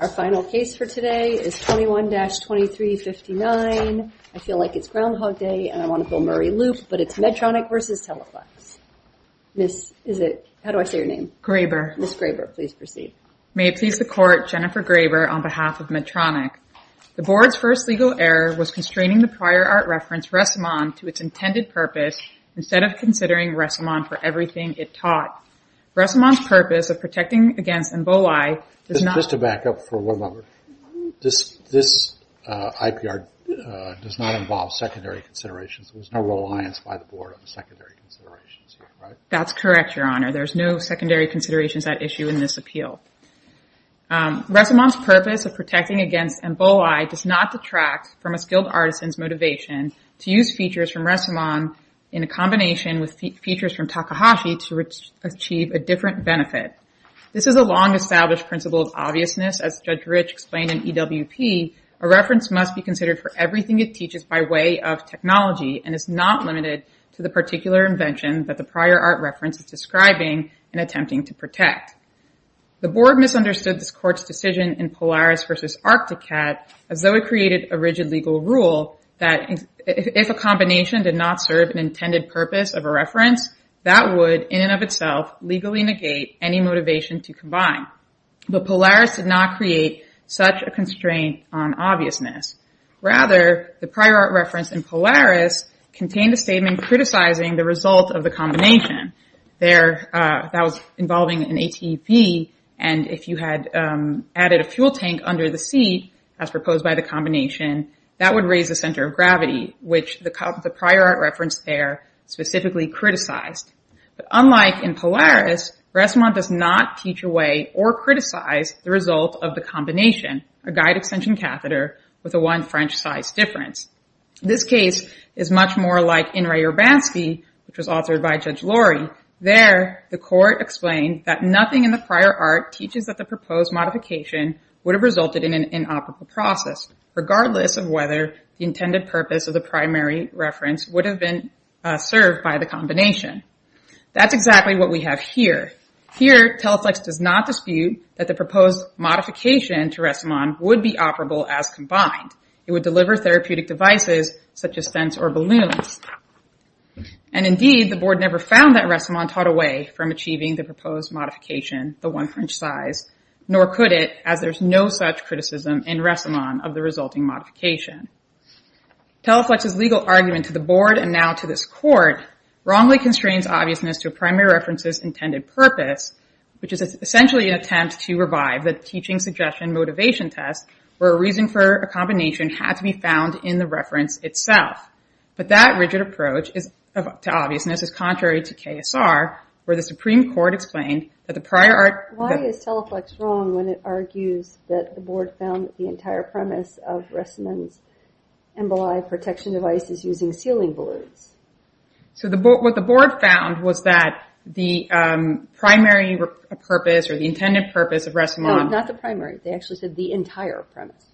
Our final case for today is 21-2359. I feel like it's Groundhog Day and I want to go Murray-Loop, but it's Medtronic v. Teleflex. Miss, is it, how do I say your name? Graber. Miss Graber, please proceed. May it please the court, Jennifer Graber on behalf of Medtronic. The board's first legal error was constraining the prior art reference, Ressamon, to its intended purpose instead of considering Ressamon for everything it taught. Ressamon's purpose of protecting against Emboli does not- Just to back up for one moment, this IPR does not involve secondary considerations. There's no reliance by the board on the secondary considerations here, right? That's correct, Your Honor. There's no secondary considerations at issue in this appeal. Ressamon's purpose of protecting against Emboli does not detract from a skilled artisan's motivation to use features from Ressamon in a combination with features from Takahashi to achieve a different benefit. This is a long-established principle of obviousness. As Judge Rich explained in EWP, a reference must be considered for everything it teaches by way of technology and is not limited to the particular invention that the prior art reference is describing and attempting to protect. The board misunderstood this court's decision in Polaris v. Arcticat as though it created a rigid legal rule that if a combination did not serve an intended purpose of a reference, that would, in and of itself, legally negate any motivation to combine. But Polaris did not create such a constraint on obviousness. Rather, the prior art reference in Polaris contained a statement criticizing the result of the combination. That was involving an ATV, and if you had added a fuel tank under the seat, as proposed by the combination, that would raise the center of gravity, which the prior art reference there specifically criticized. But unlike in Polaris, Ressmont does not teach away or criticize the result of the combination, a guide extension catheter with a one French size difference. This case is much more like in Ray Urbanski, which was authored by Judge Lorry. There, the court explained that nothing in the prior art teaches that the proposed modification would have resulted in an inoperable process, regardless of whether the intended purpose of the primary reference would have been served by the combination. That's exactly what we have here. Here, Teleflex does not dispute that the proposed modification to Ressmont would be operable as combined. It would deliver therapeutic devices, such as scents or balloons. And indeed, the board never found that Ressmont taught away from achieving the proposed modification, the one French size, nor could it, as there's no such criticism in Ressmont of the resulting modification. Teleflex's legal argument to the board and now to this court, wrongly constrains obviousness to a primary reference's intended purpose, which is essentially an attempt to revive the teaching suggestion motivation test, where a reason for a combination had to be found in the reference itself. But that rigid approach to obviousness is contrary to KSR, where the Supreme Court explained that the prior art- Why is Teleflex wrong when it argues that the board found that the entire premise of Ressmont's Emboli protection device is using ceiling balloons? So what the board found was that the primary purpose or the intended purpose of Ressmont- No, not the primary. They actually said the entire premise.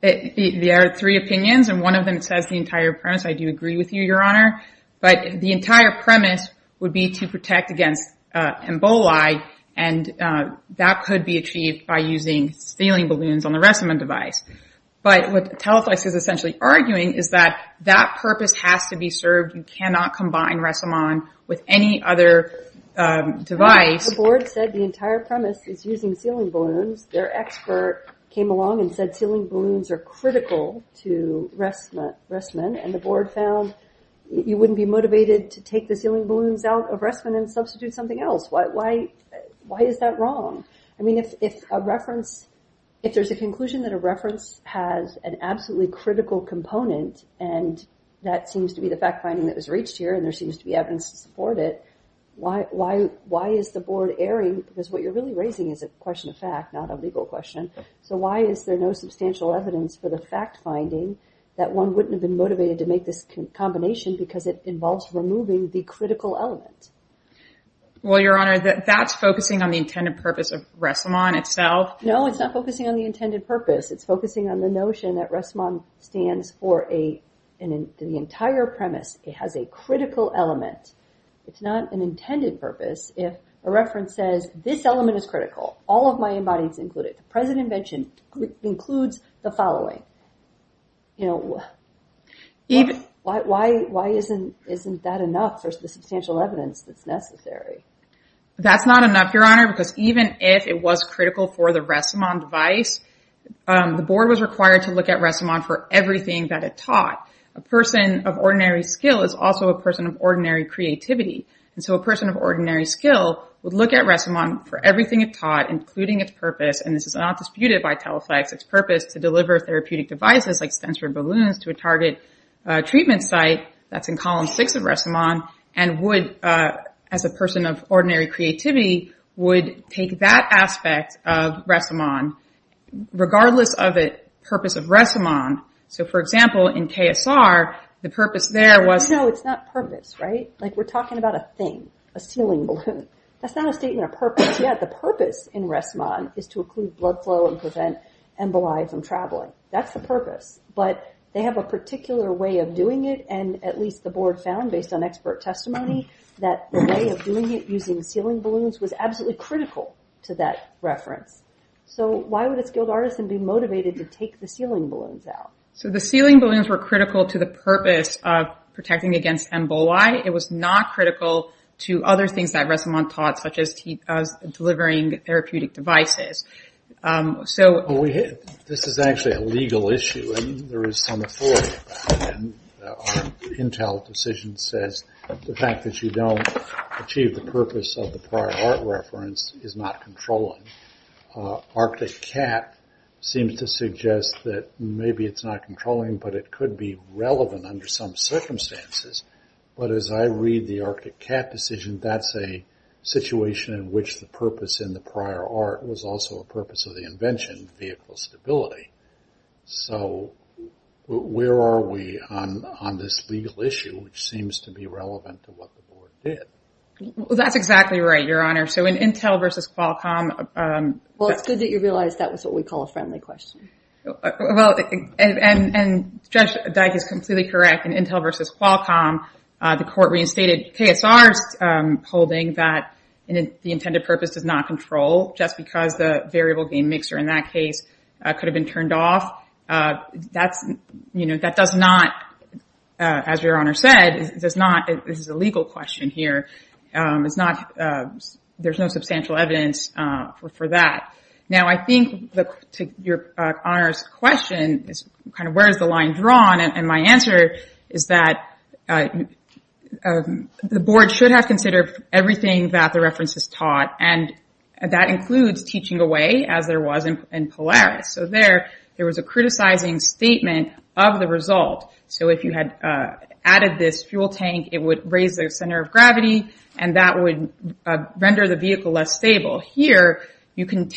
There are three opinions, and one of them says the entire premise. I do agree with you, Your Honor. But the entire premise would be to protect against Emboli, and that could be achieved by using ceiling balloons on the Ressmont device. But what Teleflex is essentially arguing is that that purpose has to be served. You cannot combine Ressmont with any other device. The board said the entire premise is using ceiling balloons. Their expert came along and said ceiling balloons are critical to Ressmont, and the board found you wouldn't be motivated to take the ceiling balloons out of Ressmont and substitute something else. Why is that wrong? I mean, if a reference, if there's a conclusion that a reference has an absolutely critical component, and that seems to be the fact-finding that was reached here, and there seems to be evidence to support it, why is the board erring? Because what you're really raising is a question of fact, not a legal question. So why is there no substantial evidence for the fact-finding that one wouldn't have been motivated to make this combination because it involves removing the critical element? Well, Your Honor, that's focusing on the intended purpose of Ressmont itself? No, it's not focusing on the intended purpose. It's focusing on the notion that Ressmont stands for the entire premise. It has a critical element. It's not an intended purpose. If a reference says this element is critical, all of my embodies include it, the present invention includes the following, why isn't that enough for the substantial evidence that's necessary? That's not enough, Your Honor, because even if it was critical for the Ressmont device, the board was required to look at Ressmont for everything that it taught. A person of ordinary skill is also a person of ordinary creativity, and so a person of ordinary skill would look at Ressmont for everything it taught, including its purpose, and this is not disputed by TELEFLEX, its purpose to deliver therapeutic devices like stensiloid balloons to a target treatment site that's in column six of Ressmont, and would, as a person of ordinary creativity, would take that aspect of Ressmont, regardless of the purpose of Ressmont. So, for example, in KSR, the purpose there was. No, it's not purpose, right? Like, we're talking about a thing, a ceiling balloon. That's not a statement of purpose yet. The purpose in Ressmont is to include blood flow and prevent emboli from traveling. That's the purpose, but they have a particular way of doing it, and at least the board found, based on expert testimony, that the way of doing it using ceiling balloons was absolutely critical to that reference. So why would a skilled artisan be motivated to take the ceiling balloons out? So the ceiling balloons were critical to the purpose of protecting against emboli. It was not critical to other things that Ressmont taught, such as delivering therapeutic devices. This is actually a legal issue, and there is some authority about it. And our Intel decision says the fact that you don't achieve the purpose of the prior art reference is not controlling. Arctic Cat seems to suggest that maybe it's not controlling, but it could be relevant under some circumstances. But as I read the Arctic Cat decision, that's a situation in which the purpose in the prior art was also a purpose of the invention, vehicle stability. So where are we on this legal issue, which seems to be relevant to what the board did? Well, that's exactly right, Your Honor. So in Intel versus Qualcomm... Well, it's good that you realized that was what we call a friendly question. Well, and Judge Dyck is completely correct. In Intel versus Qualcomm, the court reinstated KSR's holding that the intended purpose does not control, just because the variable gain mixer in that case could have been turned off, that does not, as Your Honor said, this is a legal question here. There's no substantial evidence for that. Now, I think, to Your Honor's question, kind of where is the line drawn? And my answer is that the board should have considered everything that the reference has taught, and that includes teaching away, as there was in Polaris. So there, there was a criticizing statement of the result. So if you had added this fuel tank, it would raise the center of gravity, and that would render the vehicle less stable. Here, you can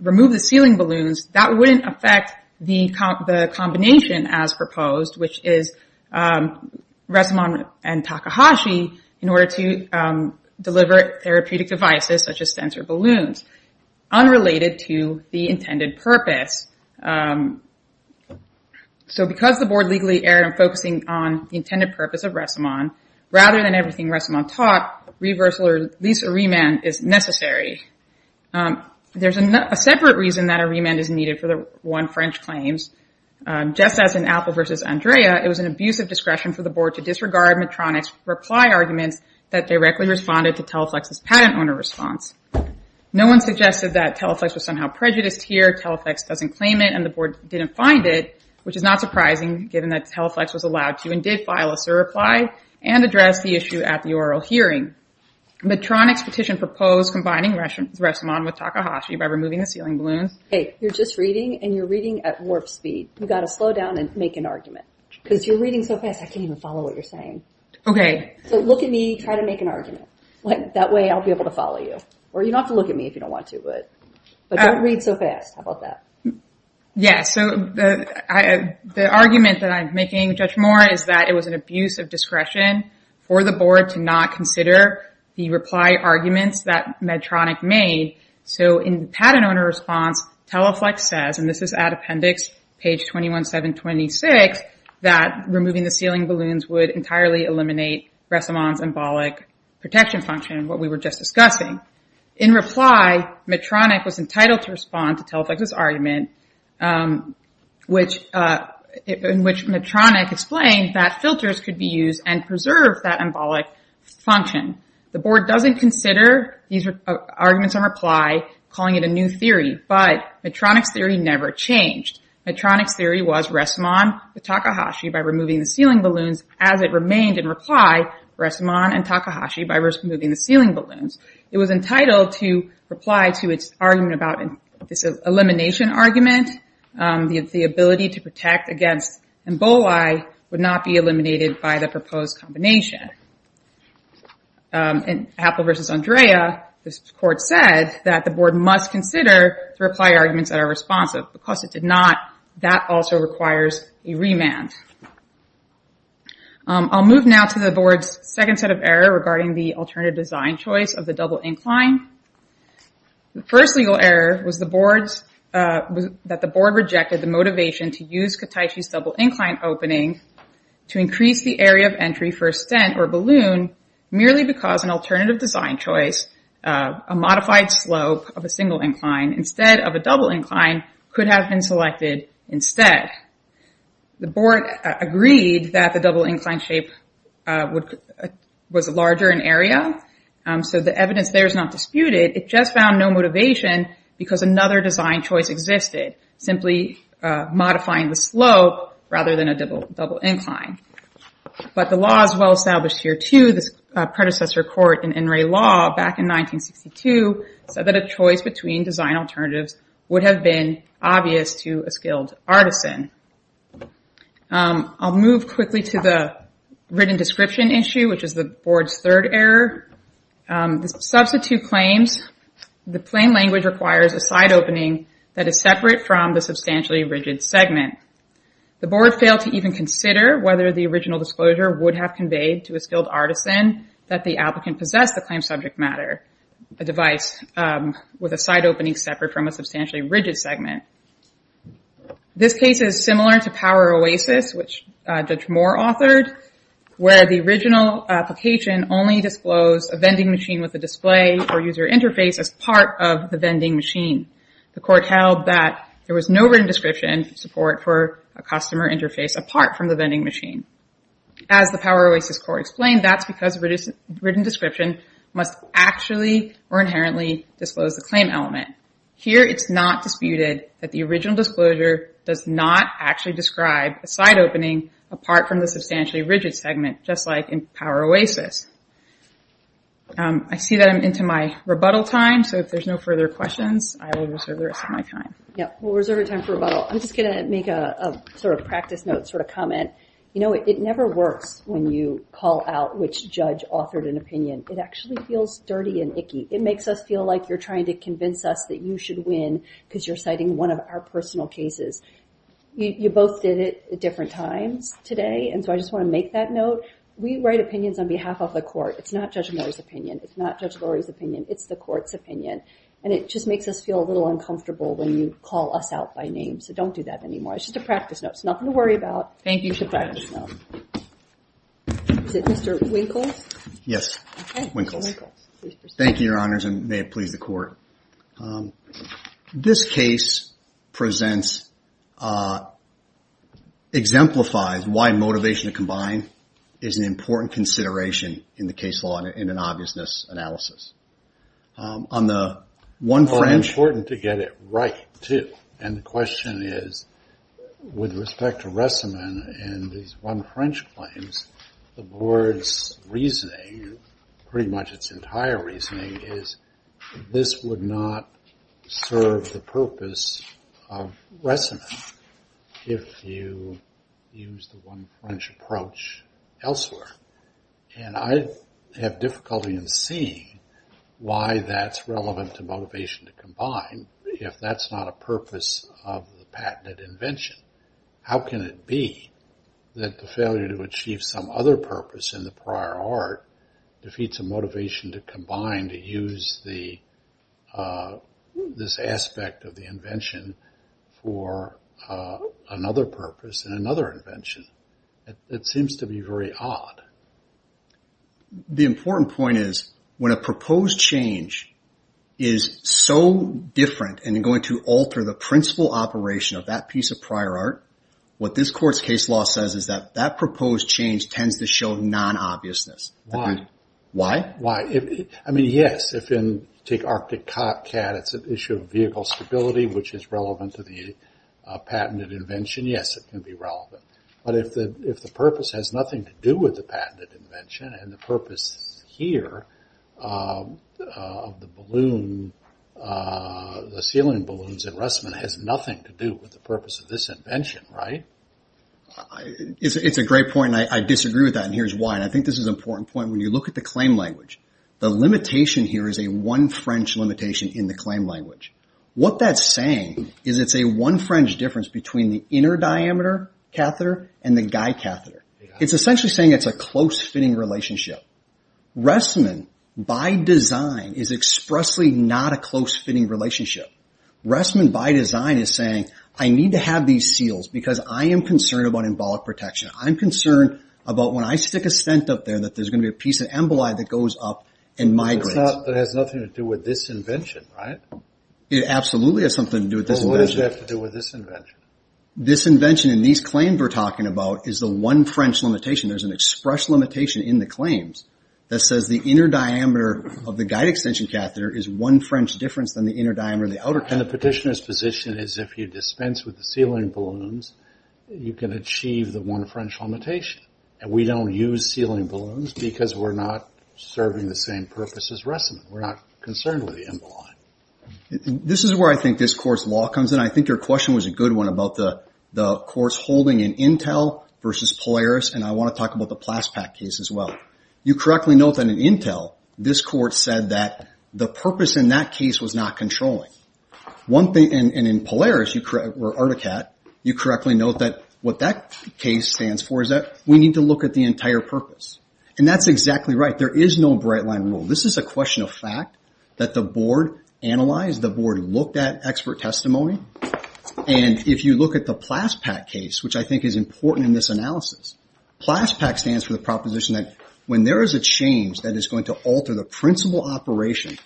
remove the ceiling balloons, that wouldn't affect the combination as proposed, which is Resiman and Takahashi, in order to deliver therapeutic devices, such as sensor balloons, unrelated to the intended purpose. So because the board legally erred on focusing on the intended purpose of Resiman, rather than everything Resiman taught, reversal, or at least a remand, is necessary. There's a separate reason that a remand is needed for the one French claims. Just as in Apple versus Andrea, it was an abuse of discretion for the board to disregard Medtronic's reply arguments that directly responded to Teleflex's patent owner response. No one suggested that Teleflex was somehow prejudiced here, Teleflex doesn't claim it, and the board didn't find it, which is not surprising, given that Teleflex was allowed to, and did file a surreply, and address the issue at the oral hearing. Medtronic's petition proposed combining Resiman with Takahashi by removing the ceiling balloons. Hey, you're just reading, and you're reading at warp speed. You gotta slow down and make an argument, because you're reading so fast, I can't even follow what you're saying. Okay. So look at me, try to make an argument. That way I'll be able to follow you. Or you don't have to look at me if you don't want to, but don't read so fast, how about that? Yeah, so the argument that I'm making, Judge Moore, is that it was an abuse of discretion for the board to not consider the reply arguments that Medtronic made. So in the patent owner response, Teleflex says, and this is at appendix page 21-7-26, that removing the ceiling balloons would entirely eliminate Resiman's embolic protection function, what we were just discussing. In reply, Medtronic was entitled to respond to Teleflex's argument, in which Medtronic explained that filters could be used and preserved that embolic function. The board doesn't consider these arguments in reply, calling it a new theory. But Medtronic's theory never changed. Medtronic's theory was Resiman, the Takahashi, by removing the ceiling balloons, as it remained in reply, Resiman and Takahashi, by removing the ceiling balloons. It was entitled to reply to its argument about this elimination argument. The ability to protect against emboli would not be eliminated by the proposed combination. In Happel versus Andrea, this court said that the board must consider the reply arguments that are responsive. Because it did not, that also requires a remand. I'll move now to the board's second set of error regarding the alternative design choice of the double incline. The first legal error was that the board rejected the motivation to use Kataishi's double incline opening to increase the area of entry for a stent or balloon, merely because an alternative design choice, a modified slope of a single incline instead of a double incline, could have been selected instead. The board agreed that the double incline shape was larger in area. So the evidence there is not disputed. It just found no motivation because another design choice existed, simply modifying the slope rather than a double incline. But the law is well-established here too, this predecessor court in Inouye Law back in 1962 said that a choice between design alternatives would have been obvious to a skilled artisan. I'll move quickly to the written description issue, which is the board's third error. The substitute claims, the plain language requires a side opening that is separate from the substantially rigid segment. The board failed to even consider whether the original disclosure would have conveyed to a skilled artisan that the applicant possessed the claim subject matter, a device with a side opening separate from a substantially rigid segment. This case is similar to Power Oasis, which Judge Moore authored, where the original application only disclosed a vending machine with a display for user interface as part of the vending machine. The court held that there was no written description support for a customer interface apart from the vending machine. As the Power Oasis court explained, that's because written description must actually or inherently disclose the claim element. Here, it's not disputed that the original disclosure does not actually describe a side opening apart from the substantially rigid segment, just like in Power Oasis. I see that I'm into my rebuttal time, so if there's no further questions, I will reserve the rest of my time. Yeah, we'll reserve your time for rebuttal. I'm just gonna make a sort of practice note, sort of comment. You know, it never works when you call out which judge authored an opinion. It actually feels dirty and icky. It makes us feel like you're trying to convince us that you should win because you're citing one of our personal cases. You both did it at different times today, and so I just wanna make that note. We write opinions on behalf of the court. It's not Judge Moore's opinion. It's not Judge Lurie's opinion. It's the court's opinion, and it just makes us feel a little uncomfortable when you call us out by name, so don't do that anymore. It's just a practice note. It's nothing to worry about. Thank you so much. It's a practice note. Is it Mr. Winkles? Yes. Okay, Mr. Winkles, please proceed. Thank you, Your Honors, and may it please the court. This case presents, exemplifies why motivation to combine is an important consideration in the case law in an obviousness analysis. On the one French- Well, it's important to get it right, too, and the question is, with respect to Ressaman and these one French claims, the board's reasoning, pretty much its entire reasoning, is this would not serve the purpose of Ressaman if you use the one French approach elsewhere, and I have difficulty in seeing why that's relevant to motivation to combine if that's not a purpose of the patented invention. How can it be that the failure to achieve some other purpose in the prior art defeats a motivation to combine, to use this aspect of the invention for another purpose in another invention? It seems to be very odd. The important point is, when a proposed change is so different and going to alter the principal operation of that piece of prior art, what this court's case law says is that that proposed change tends to show non-obviousness. Why? Why? Why? I mean, yes, if you take Arctic Cat, it's an issue of vehicle stability, which is relevant to the patented invention. Yes, it can be relevant, but if the purpose has nothing to do with the patented invention, and the purpose here of the balloon, the ceiling balloons at Russman has nothing to do with the purpose of this invention, right? It's a great point, and I disagree with that, and here's why, and I think this is an important point. When you look at the claim language, the limitation here is a one French limitation in the claim language. What that's saying is it's a one French difference between the inner diameter catheter and the guide catheter. It's essentially saying it's a close-fitting relationship. Russman, by design, is expressly not a close-fitting relationship. Russman, by design, is saying, I need to have these seals because I am concerned about embolic protection. I'm concerned about when I stick a stent up there that there's going to be a piece of emboli that goes up and migrates. It has nothing to do with this invention, right? It absolutely has something to do with this invention. Well, what does it have to do with this invention? This invention, in these claims we're talking about, is the one French limitation. There's an express limitation in the claims that says the inner diameter of the guide extension catheter is one French difference than the inner diameter of the outer catheter. And the petitioner's position is if you dispense with the sealing balloons, you can achieve the one French limitation. And we don't use sealing balloons because we're not serving the same purpose as Russman. We're not concerned with the emboli. This is where I think this court's law comes in. I think your question was a good one about the court's holding in Intel versus Polaris, and I want to talk about the Plaspat case as well. You correctly note that in Intel, this court said that the purpose in that case was not controlling. One thing, and in Polaris, or Articat, you correctly note that what that case stands for is that we need to look at the entire purpose. And that's exactly right. There is no bright line rule. This is a question of fact that the board analyzed, the board looked at expert testimony. And if you look at the Plaspat case, which I think is important in this analysis, Plaspat stands for the proposition that when there is a change that is going to alter the principal operation,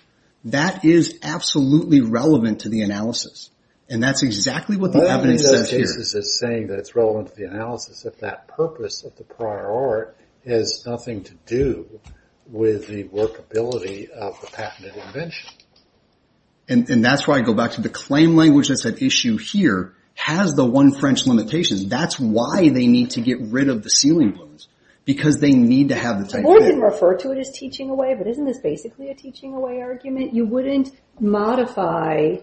that is absolutely relevant to the analysis. And that's exactly what the evidence says here. What are those cases that's saying that it's relevant to the analysis if that purpose of the prior art has nothing to do with the workability of the patented invention? And that's why I go back to the claim language that's at issue here, has the one French limitation. That's why they need to get rid of the ceiling balloons. Because they need to have the type of- The board didn't refer to it as teaching away, but isn't this basically a teaching away argument? You wouldn't modify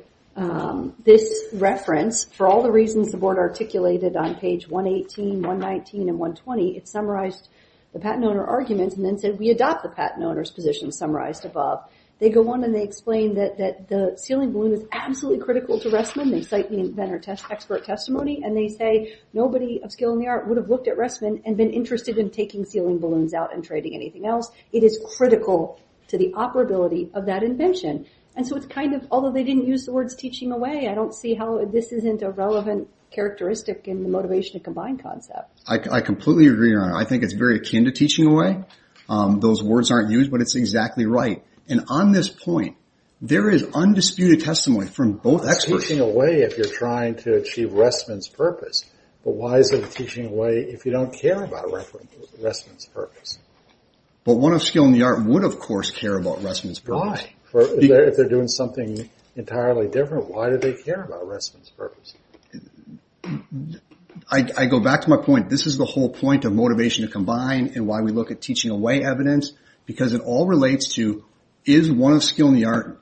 this reference for all the reasons the board articulated on page 118, 119, and 120. It summarized the patent owner arguments and then said we adopt the patent owner's position summarized above. They go on and they explain that the ceiling balloon was absolutely critical to Restman. They cite the inventor expert testimony and they say nobody of skill in the art would have looked at Restman and been interested in taking ceiling balloons out and trading anything else. It is critical to the operability of that invention. And so it's kind of, although they didn't use the words teaching away, I don't see how this isn't a relevant characteristic in the motivation to combine concept. I completely agree on it. I think it's very akin to teaching away. Those words aren't used, but it's exactly right. And on this point, there is undisputed testimony from both experts. Teaching away if you're trying to achieve Restman's purpose, but why is it a teaching away if you don't care about Restman's purpose? But one of skill in the art would of course care about Restman's purpose. Why? If they're doing something entirely different, why do they care about Restman's purpose? I go back to my point. This is the whole point of motivation to combine and why we look at teaching away evidence because it all relates to, is one of skill in the art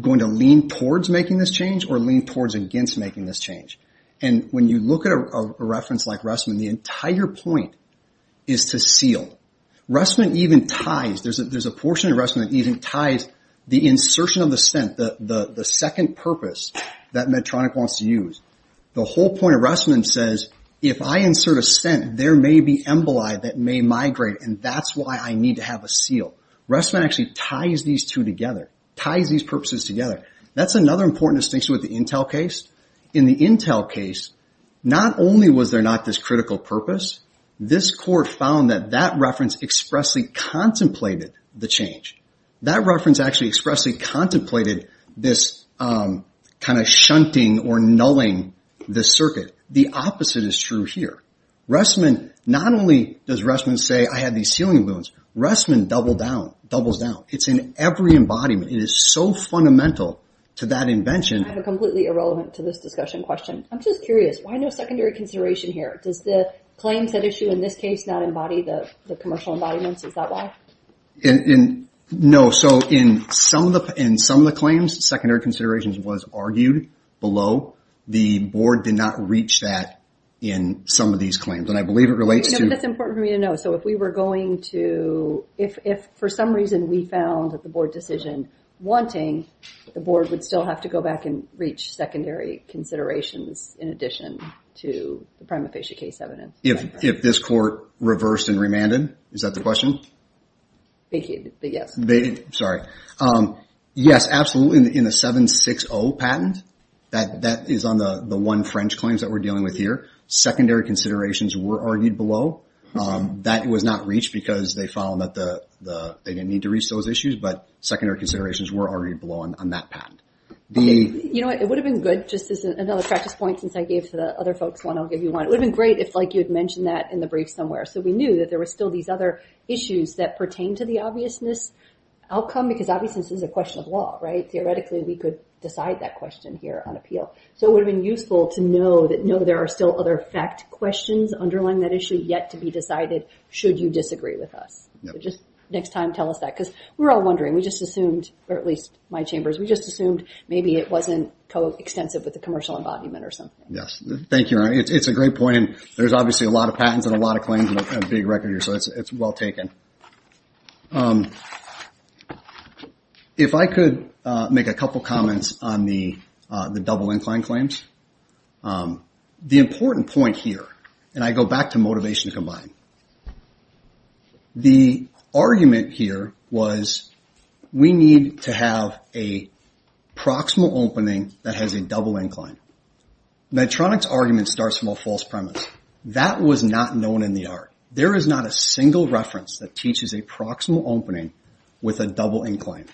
going to lean towards making this change or lean towards against making this change? And when you look at a reference like Restman, the entire point is to seal. Restman even ties, there's a portion of Restman that even ties the insertion of the scent, the second purpose that Medtronic wants to use. The whole point of Restman says, if I insert a scent, there may be emboli that may migrate and that's why I need to have a seal. Restman actually ties these two together, ties these purposes together. That's another important distinction with the Intel case. In the Intel case, not only was there not this critical purpose, this court found that that reference expressly contemplated the change. That reference actually expressly contemplated this kind of shunting or nulling the circuit. The opposite is true here. Restman, not only does Restman say, I have these healing wounds, Restman doubles down, doubles down. It's in every embodiment. It is so fundamental to that invention. I have a completely irrelevant to this discussion question. I'm just curious, why no secondary consideration here? Does the claims that issue in this case not embody the commercial embodiments, is that why? No, so in some of the claims, secondary considerations was argued below. The board did not reach that in some of these claims. And I believe it relates to- No, but that's important for me to know. So if we were going to, if for some reason we found that the board decision wanting, the board would still have to go back and reach secondary considerations in addition to the prima facie case evidence. If this court reversed and remanded, is that the question? Yes. Sorry. Yes, absolutely, in the 760 patent, that is on the one French claims that we're dealing with here. Secondary considerations were argued below. That was not reached because they found that they didn't need to reach those issues, but secondary considerations were already blown on that patent. You know what, it would have been good just as another practice point, since I gave to the other folks one, I'll give you one. It would have been great if like you had mentioned that in the brief somewhere. So we knew that there were still these other issues that pertain to the obviousness outcome, because obviousness is a question of law, right? It's not a question here on appeal. So it would have been useful to know that no, there are still other fact questions underlying that issue yet to be decided, should you disagree with us. So just next time, tell us that. Because we're all wondering, we just assumed, or at least my chambers, we just assumed maybe it wasn't co-extensive with the commercial embodiment or something. Yes, thank you. It's a great point, and there's obviously a lot of patents and a lot of claims and a big record here, so it's well taken. If I could make a couple comments on the double incline claims. The important point here, and I go back to motivation to combine. The argument here was we need to have a proximal opening that has a double incline. Medtronic's argument starts from a false premise. That was not known in the art. There is not a single reference that teaches a proximal opening with a double incline.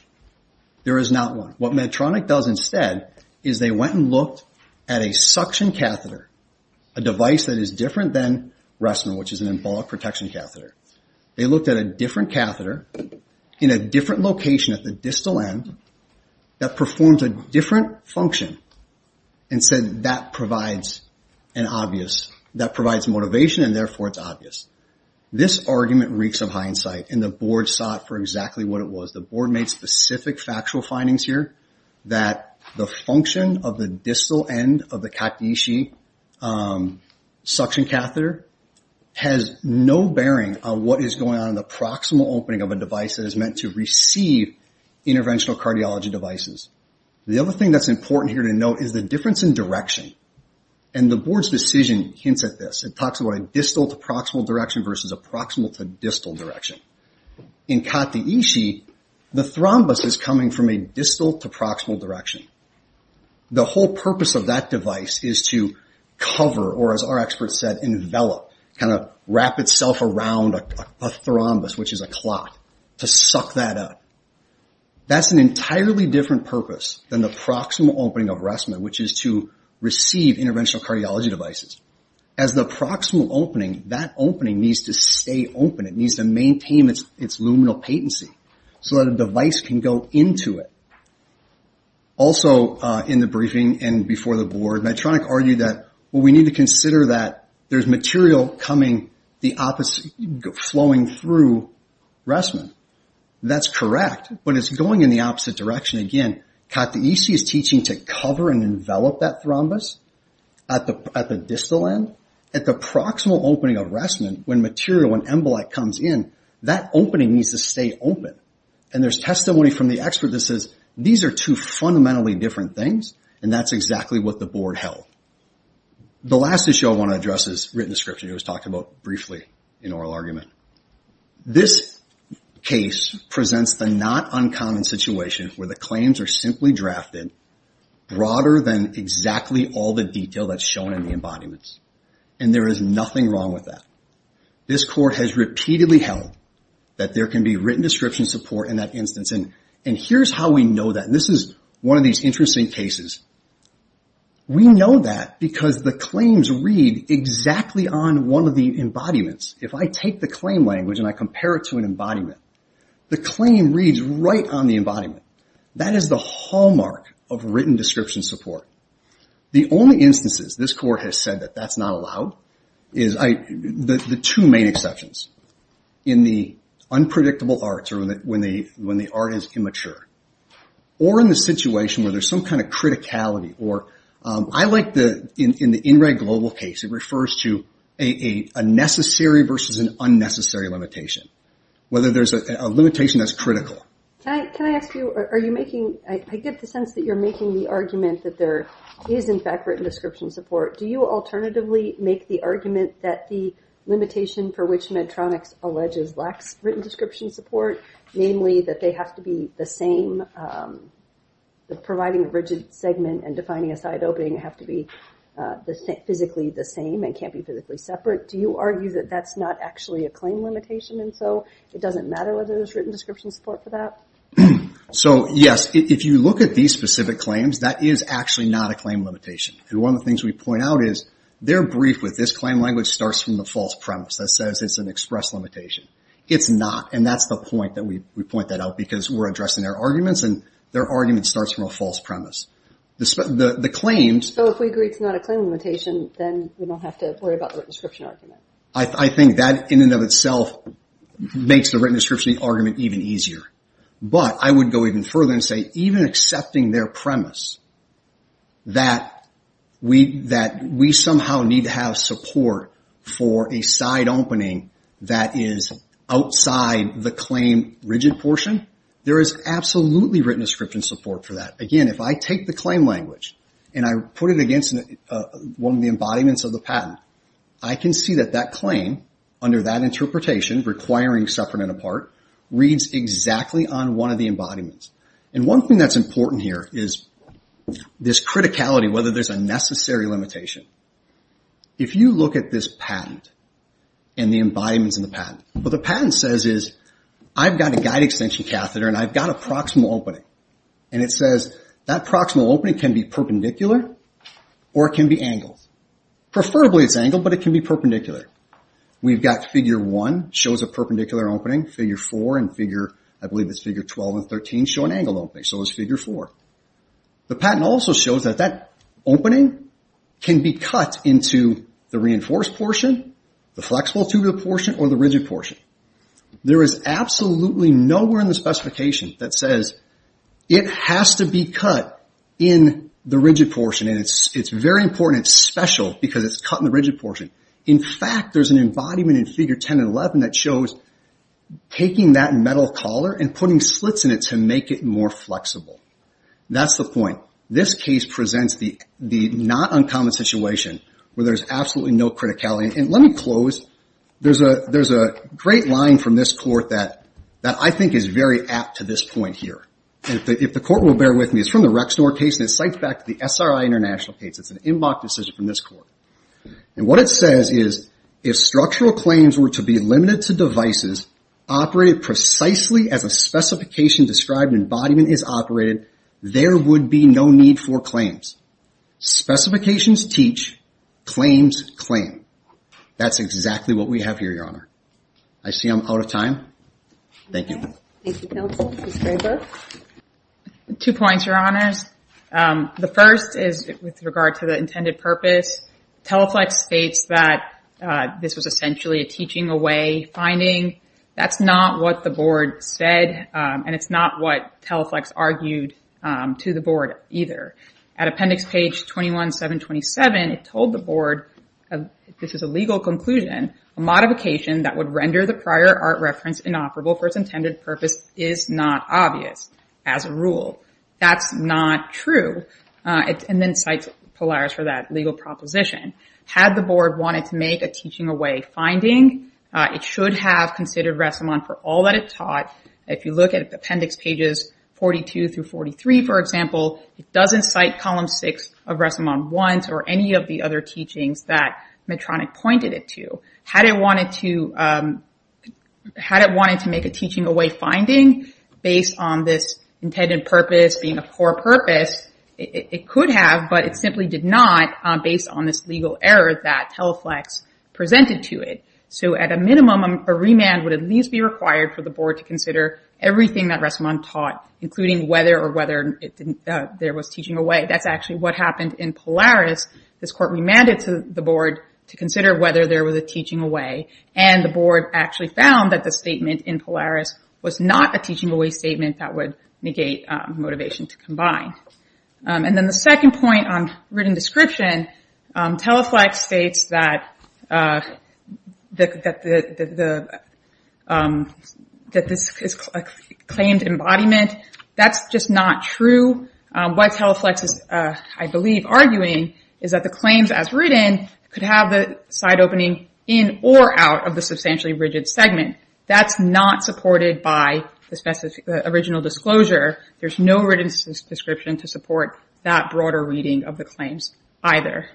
There is not one. What Medtronic does instead is they went and looked at a suction catheter, a device that is different than Reston, which is an embolic protection catheter. They looked at a different catheter in a different location at the distal end that performs a different function and said that provides an obvious, that provides motivation and therefore it's obvious. This argument reeks of hindsight, and the board sought for exactly what it was. The board made specific factual findings here that the function of the distal end of the Kataishi suction catheter has no bearing on what is going on in the proximal opening of a device that is meant to receive interventional cardiology devices. The other thing that's important here to note is the difference in direction, and the board's decision hints at this. It talks about a distal to proximal direction versus a proximal to distal direction. In Kataishi, the thrombus is coming from a distal to proximal direction. The whole purpose of that device is to cover, or as our experts said, envelop, kind of wrap itself around a thrombus, which is a cloth, to suck that up. That's an entirely different purpose than the proximal opening of Reston, which is to receive interventional cardiology devices. As the proximal opening, that opening needs to stay open. It needs to maintain its luminal patency so that a device can go into it. Also, in the briefing and before the board, Medtronic argued that, well, we need to consider that there's material flowing through Reston. That's correct, but it's going in the opposite direction. Again, Kataishi is teaching to cover and envelop that thrombus at the distal end. At the proximal opening of Reston, when material, when embolite comes in, that opening needs to stay open. There's testimony from the expert that says, these are two fundamentally different things, and that's exactly what the board held. The last issue I want to address is written description. It was talked about briefly in oral argument. This case presents the not uncommon situation where the claims are simply drafted broader than exactly all the detail that's shown in the embodiments. And there is nothing wrong with that. This court has repeatedly held that there can be written description support in that instance, and here's how we know that. This is one of these interesting cases. We know that because the claims read exactly on one of the embodiments. If I take the claim language and I compare it to an embodiment, the claim reads right on the embodiment. That is the hallmark of written description support. The only instances this court has said that that's not allowed is the two main exceptions, in the unpredictable arts, or when the art is immature, or in the situation where there's some kind of criticality, or I like the, in the in red global case, it refers to a necessary versus an unnecessary limitation, whether there's a limitation that's critical. Can I ask you, are you making, I get the sense that you're making the argument that there is, in fact, written description support. Do you alternatively make the argument that the limitation for which Medtronic alleges lacks written description support, namely that they have to be the same, that providing a rigid segment and defining a side opening have to be physically the same and can't be physically separate? Do you argue that that's not actually a claim limitation, and so it doesn't matter whether there's written description support for that? So yes, if you look at these specific claims, that is actually not a claim limitation. And one of the things we point out is, their brief with this claim language starts from the false premise that says it's an express limitation. It's not, and that's the point that we point that out, because we're addressing their arguments, and their argument starts from a false premise. The claims- So if we agree it's not a claim limitation, then we don't have to worry about the written description argument. I think that, in and of itself, makes the written description argument even easier. But I would go even further and say, even accepting their premise that we somehow need to have support for a side opening that is outside the claim rigid portion, there is absolutely written description support for that. Again, if I take the claim language and I put it against one of the embodiments of the patent, I can see that that claim, under that interpretation, requiring separate and apart, reads exactly on one of the embodiments. And one thing that's important here is this criticality, whether there's a necessary limitation. If you look at this patent and the embodiments in the patent, what the patent says is, I've got a guide extension catheter and I've got a proximal opening. And it says, that proximal opening can be perpendicular or it can be angled. Preferably it's angled, but it can be perpendicular. We've got figure one, shows a perpendicular opening. Figure four and figure, I believe it's figure 12 and 13, show an angled opening, so it's figure four. The patent also shows that that opening can be cut into the reinforced portion, the flexible tubular portion, or the rigid portion. There is absolutely nowhere in the specification that says it has to be cut in the rigid portion. And it's very important and special because it's cut in the rigid portion. In fact, there's an embodiment in figure 10 and 11 that shows taking that metal collar and putting slits in it to make it more flexible. That's the point. This case presents the not uncommon situation where there's absolutely no criticality. And let me close. There's a great line from this court that I think is very apt to this point here. And if the court will bear with me, it's from the Rexnor case and it cites back to the SRI International case. It's an inbox decision from this court. And what it says is, if structural claims were to be limited to devices operated precisely as a specification described and embodiment is operated, there would be no need for claims. Specifications teach, claims claim. That's exactly what we have here, Your Honor. I see I'm out of time. Thank you. Thank you, Counsel. Ms. Graber. Two points, Your Honors. The first is with regard to the intended purpose. Teleflex states that this was essentially a teaching away finding. That's not what the board said and it's not what Teleflex argued to the board either. At appendix page 21-727, it told the board, this is a legal conclusion, a modification that would render the prior art reference inoperable for its intended purpose is not obvious as a rule. That's not true. And then cites Polaris for that legal proposition. Had the board wanted to make a teaching away finding, it should have considered Ressamon for all that it taught. If you look at appendix pages 42-43, for example, it doesn't cite column six of Ressamon once or any of the other teachings that Medtronic pointed it to. Had it wanted to make a teaching away finding based on this intended purpose being a core purpose, it could have, but it simply did not based on this legal error that Teleflex presented to it. So at a minimum, a remand would at least be required for the board to consider everything that Ressamon taught, including whether or whether there was teaching away. That's actually what happened in Polaris. This court remanded to the board to consider whether there was a teaching away and the board actually found that the statement in Polaris was not a teaching away statement that would negate motivation to combine. And then the second point on written description, Teleflex states that this is a claimed embodiment. That's just not true. What Teleflex is, I believe, arguing is that the claims as written could have the side opening in or out of the substantially rigid segment. That's not supported by the original disclosure. There's no written description to support that broader reading of the claims either.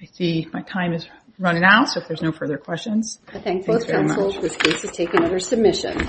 I see my time is running out, so if there's no further questions. I thank both counsels. This case is taken under submission.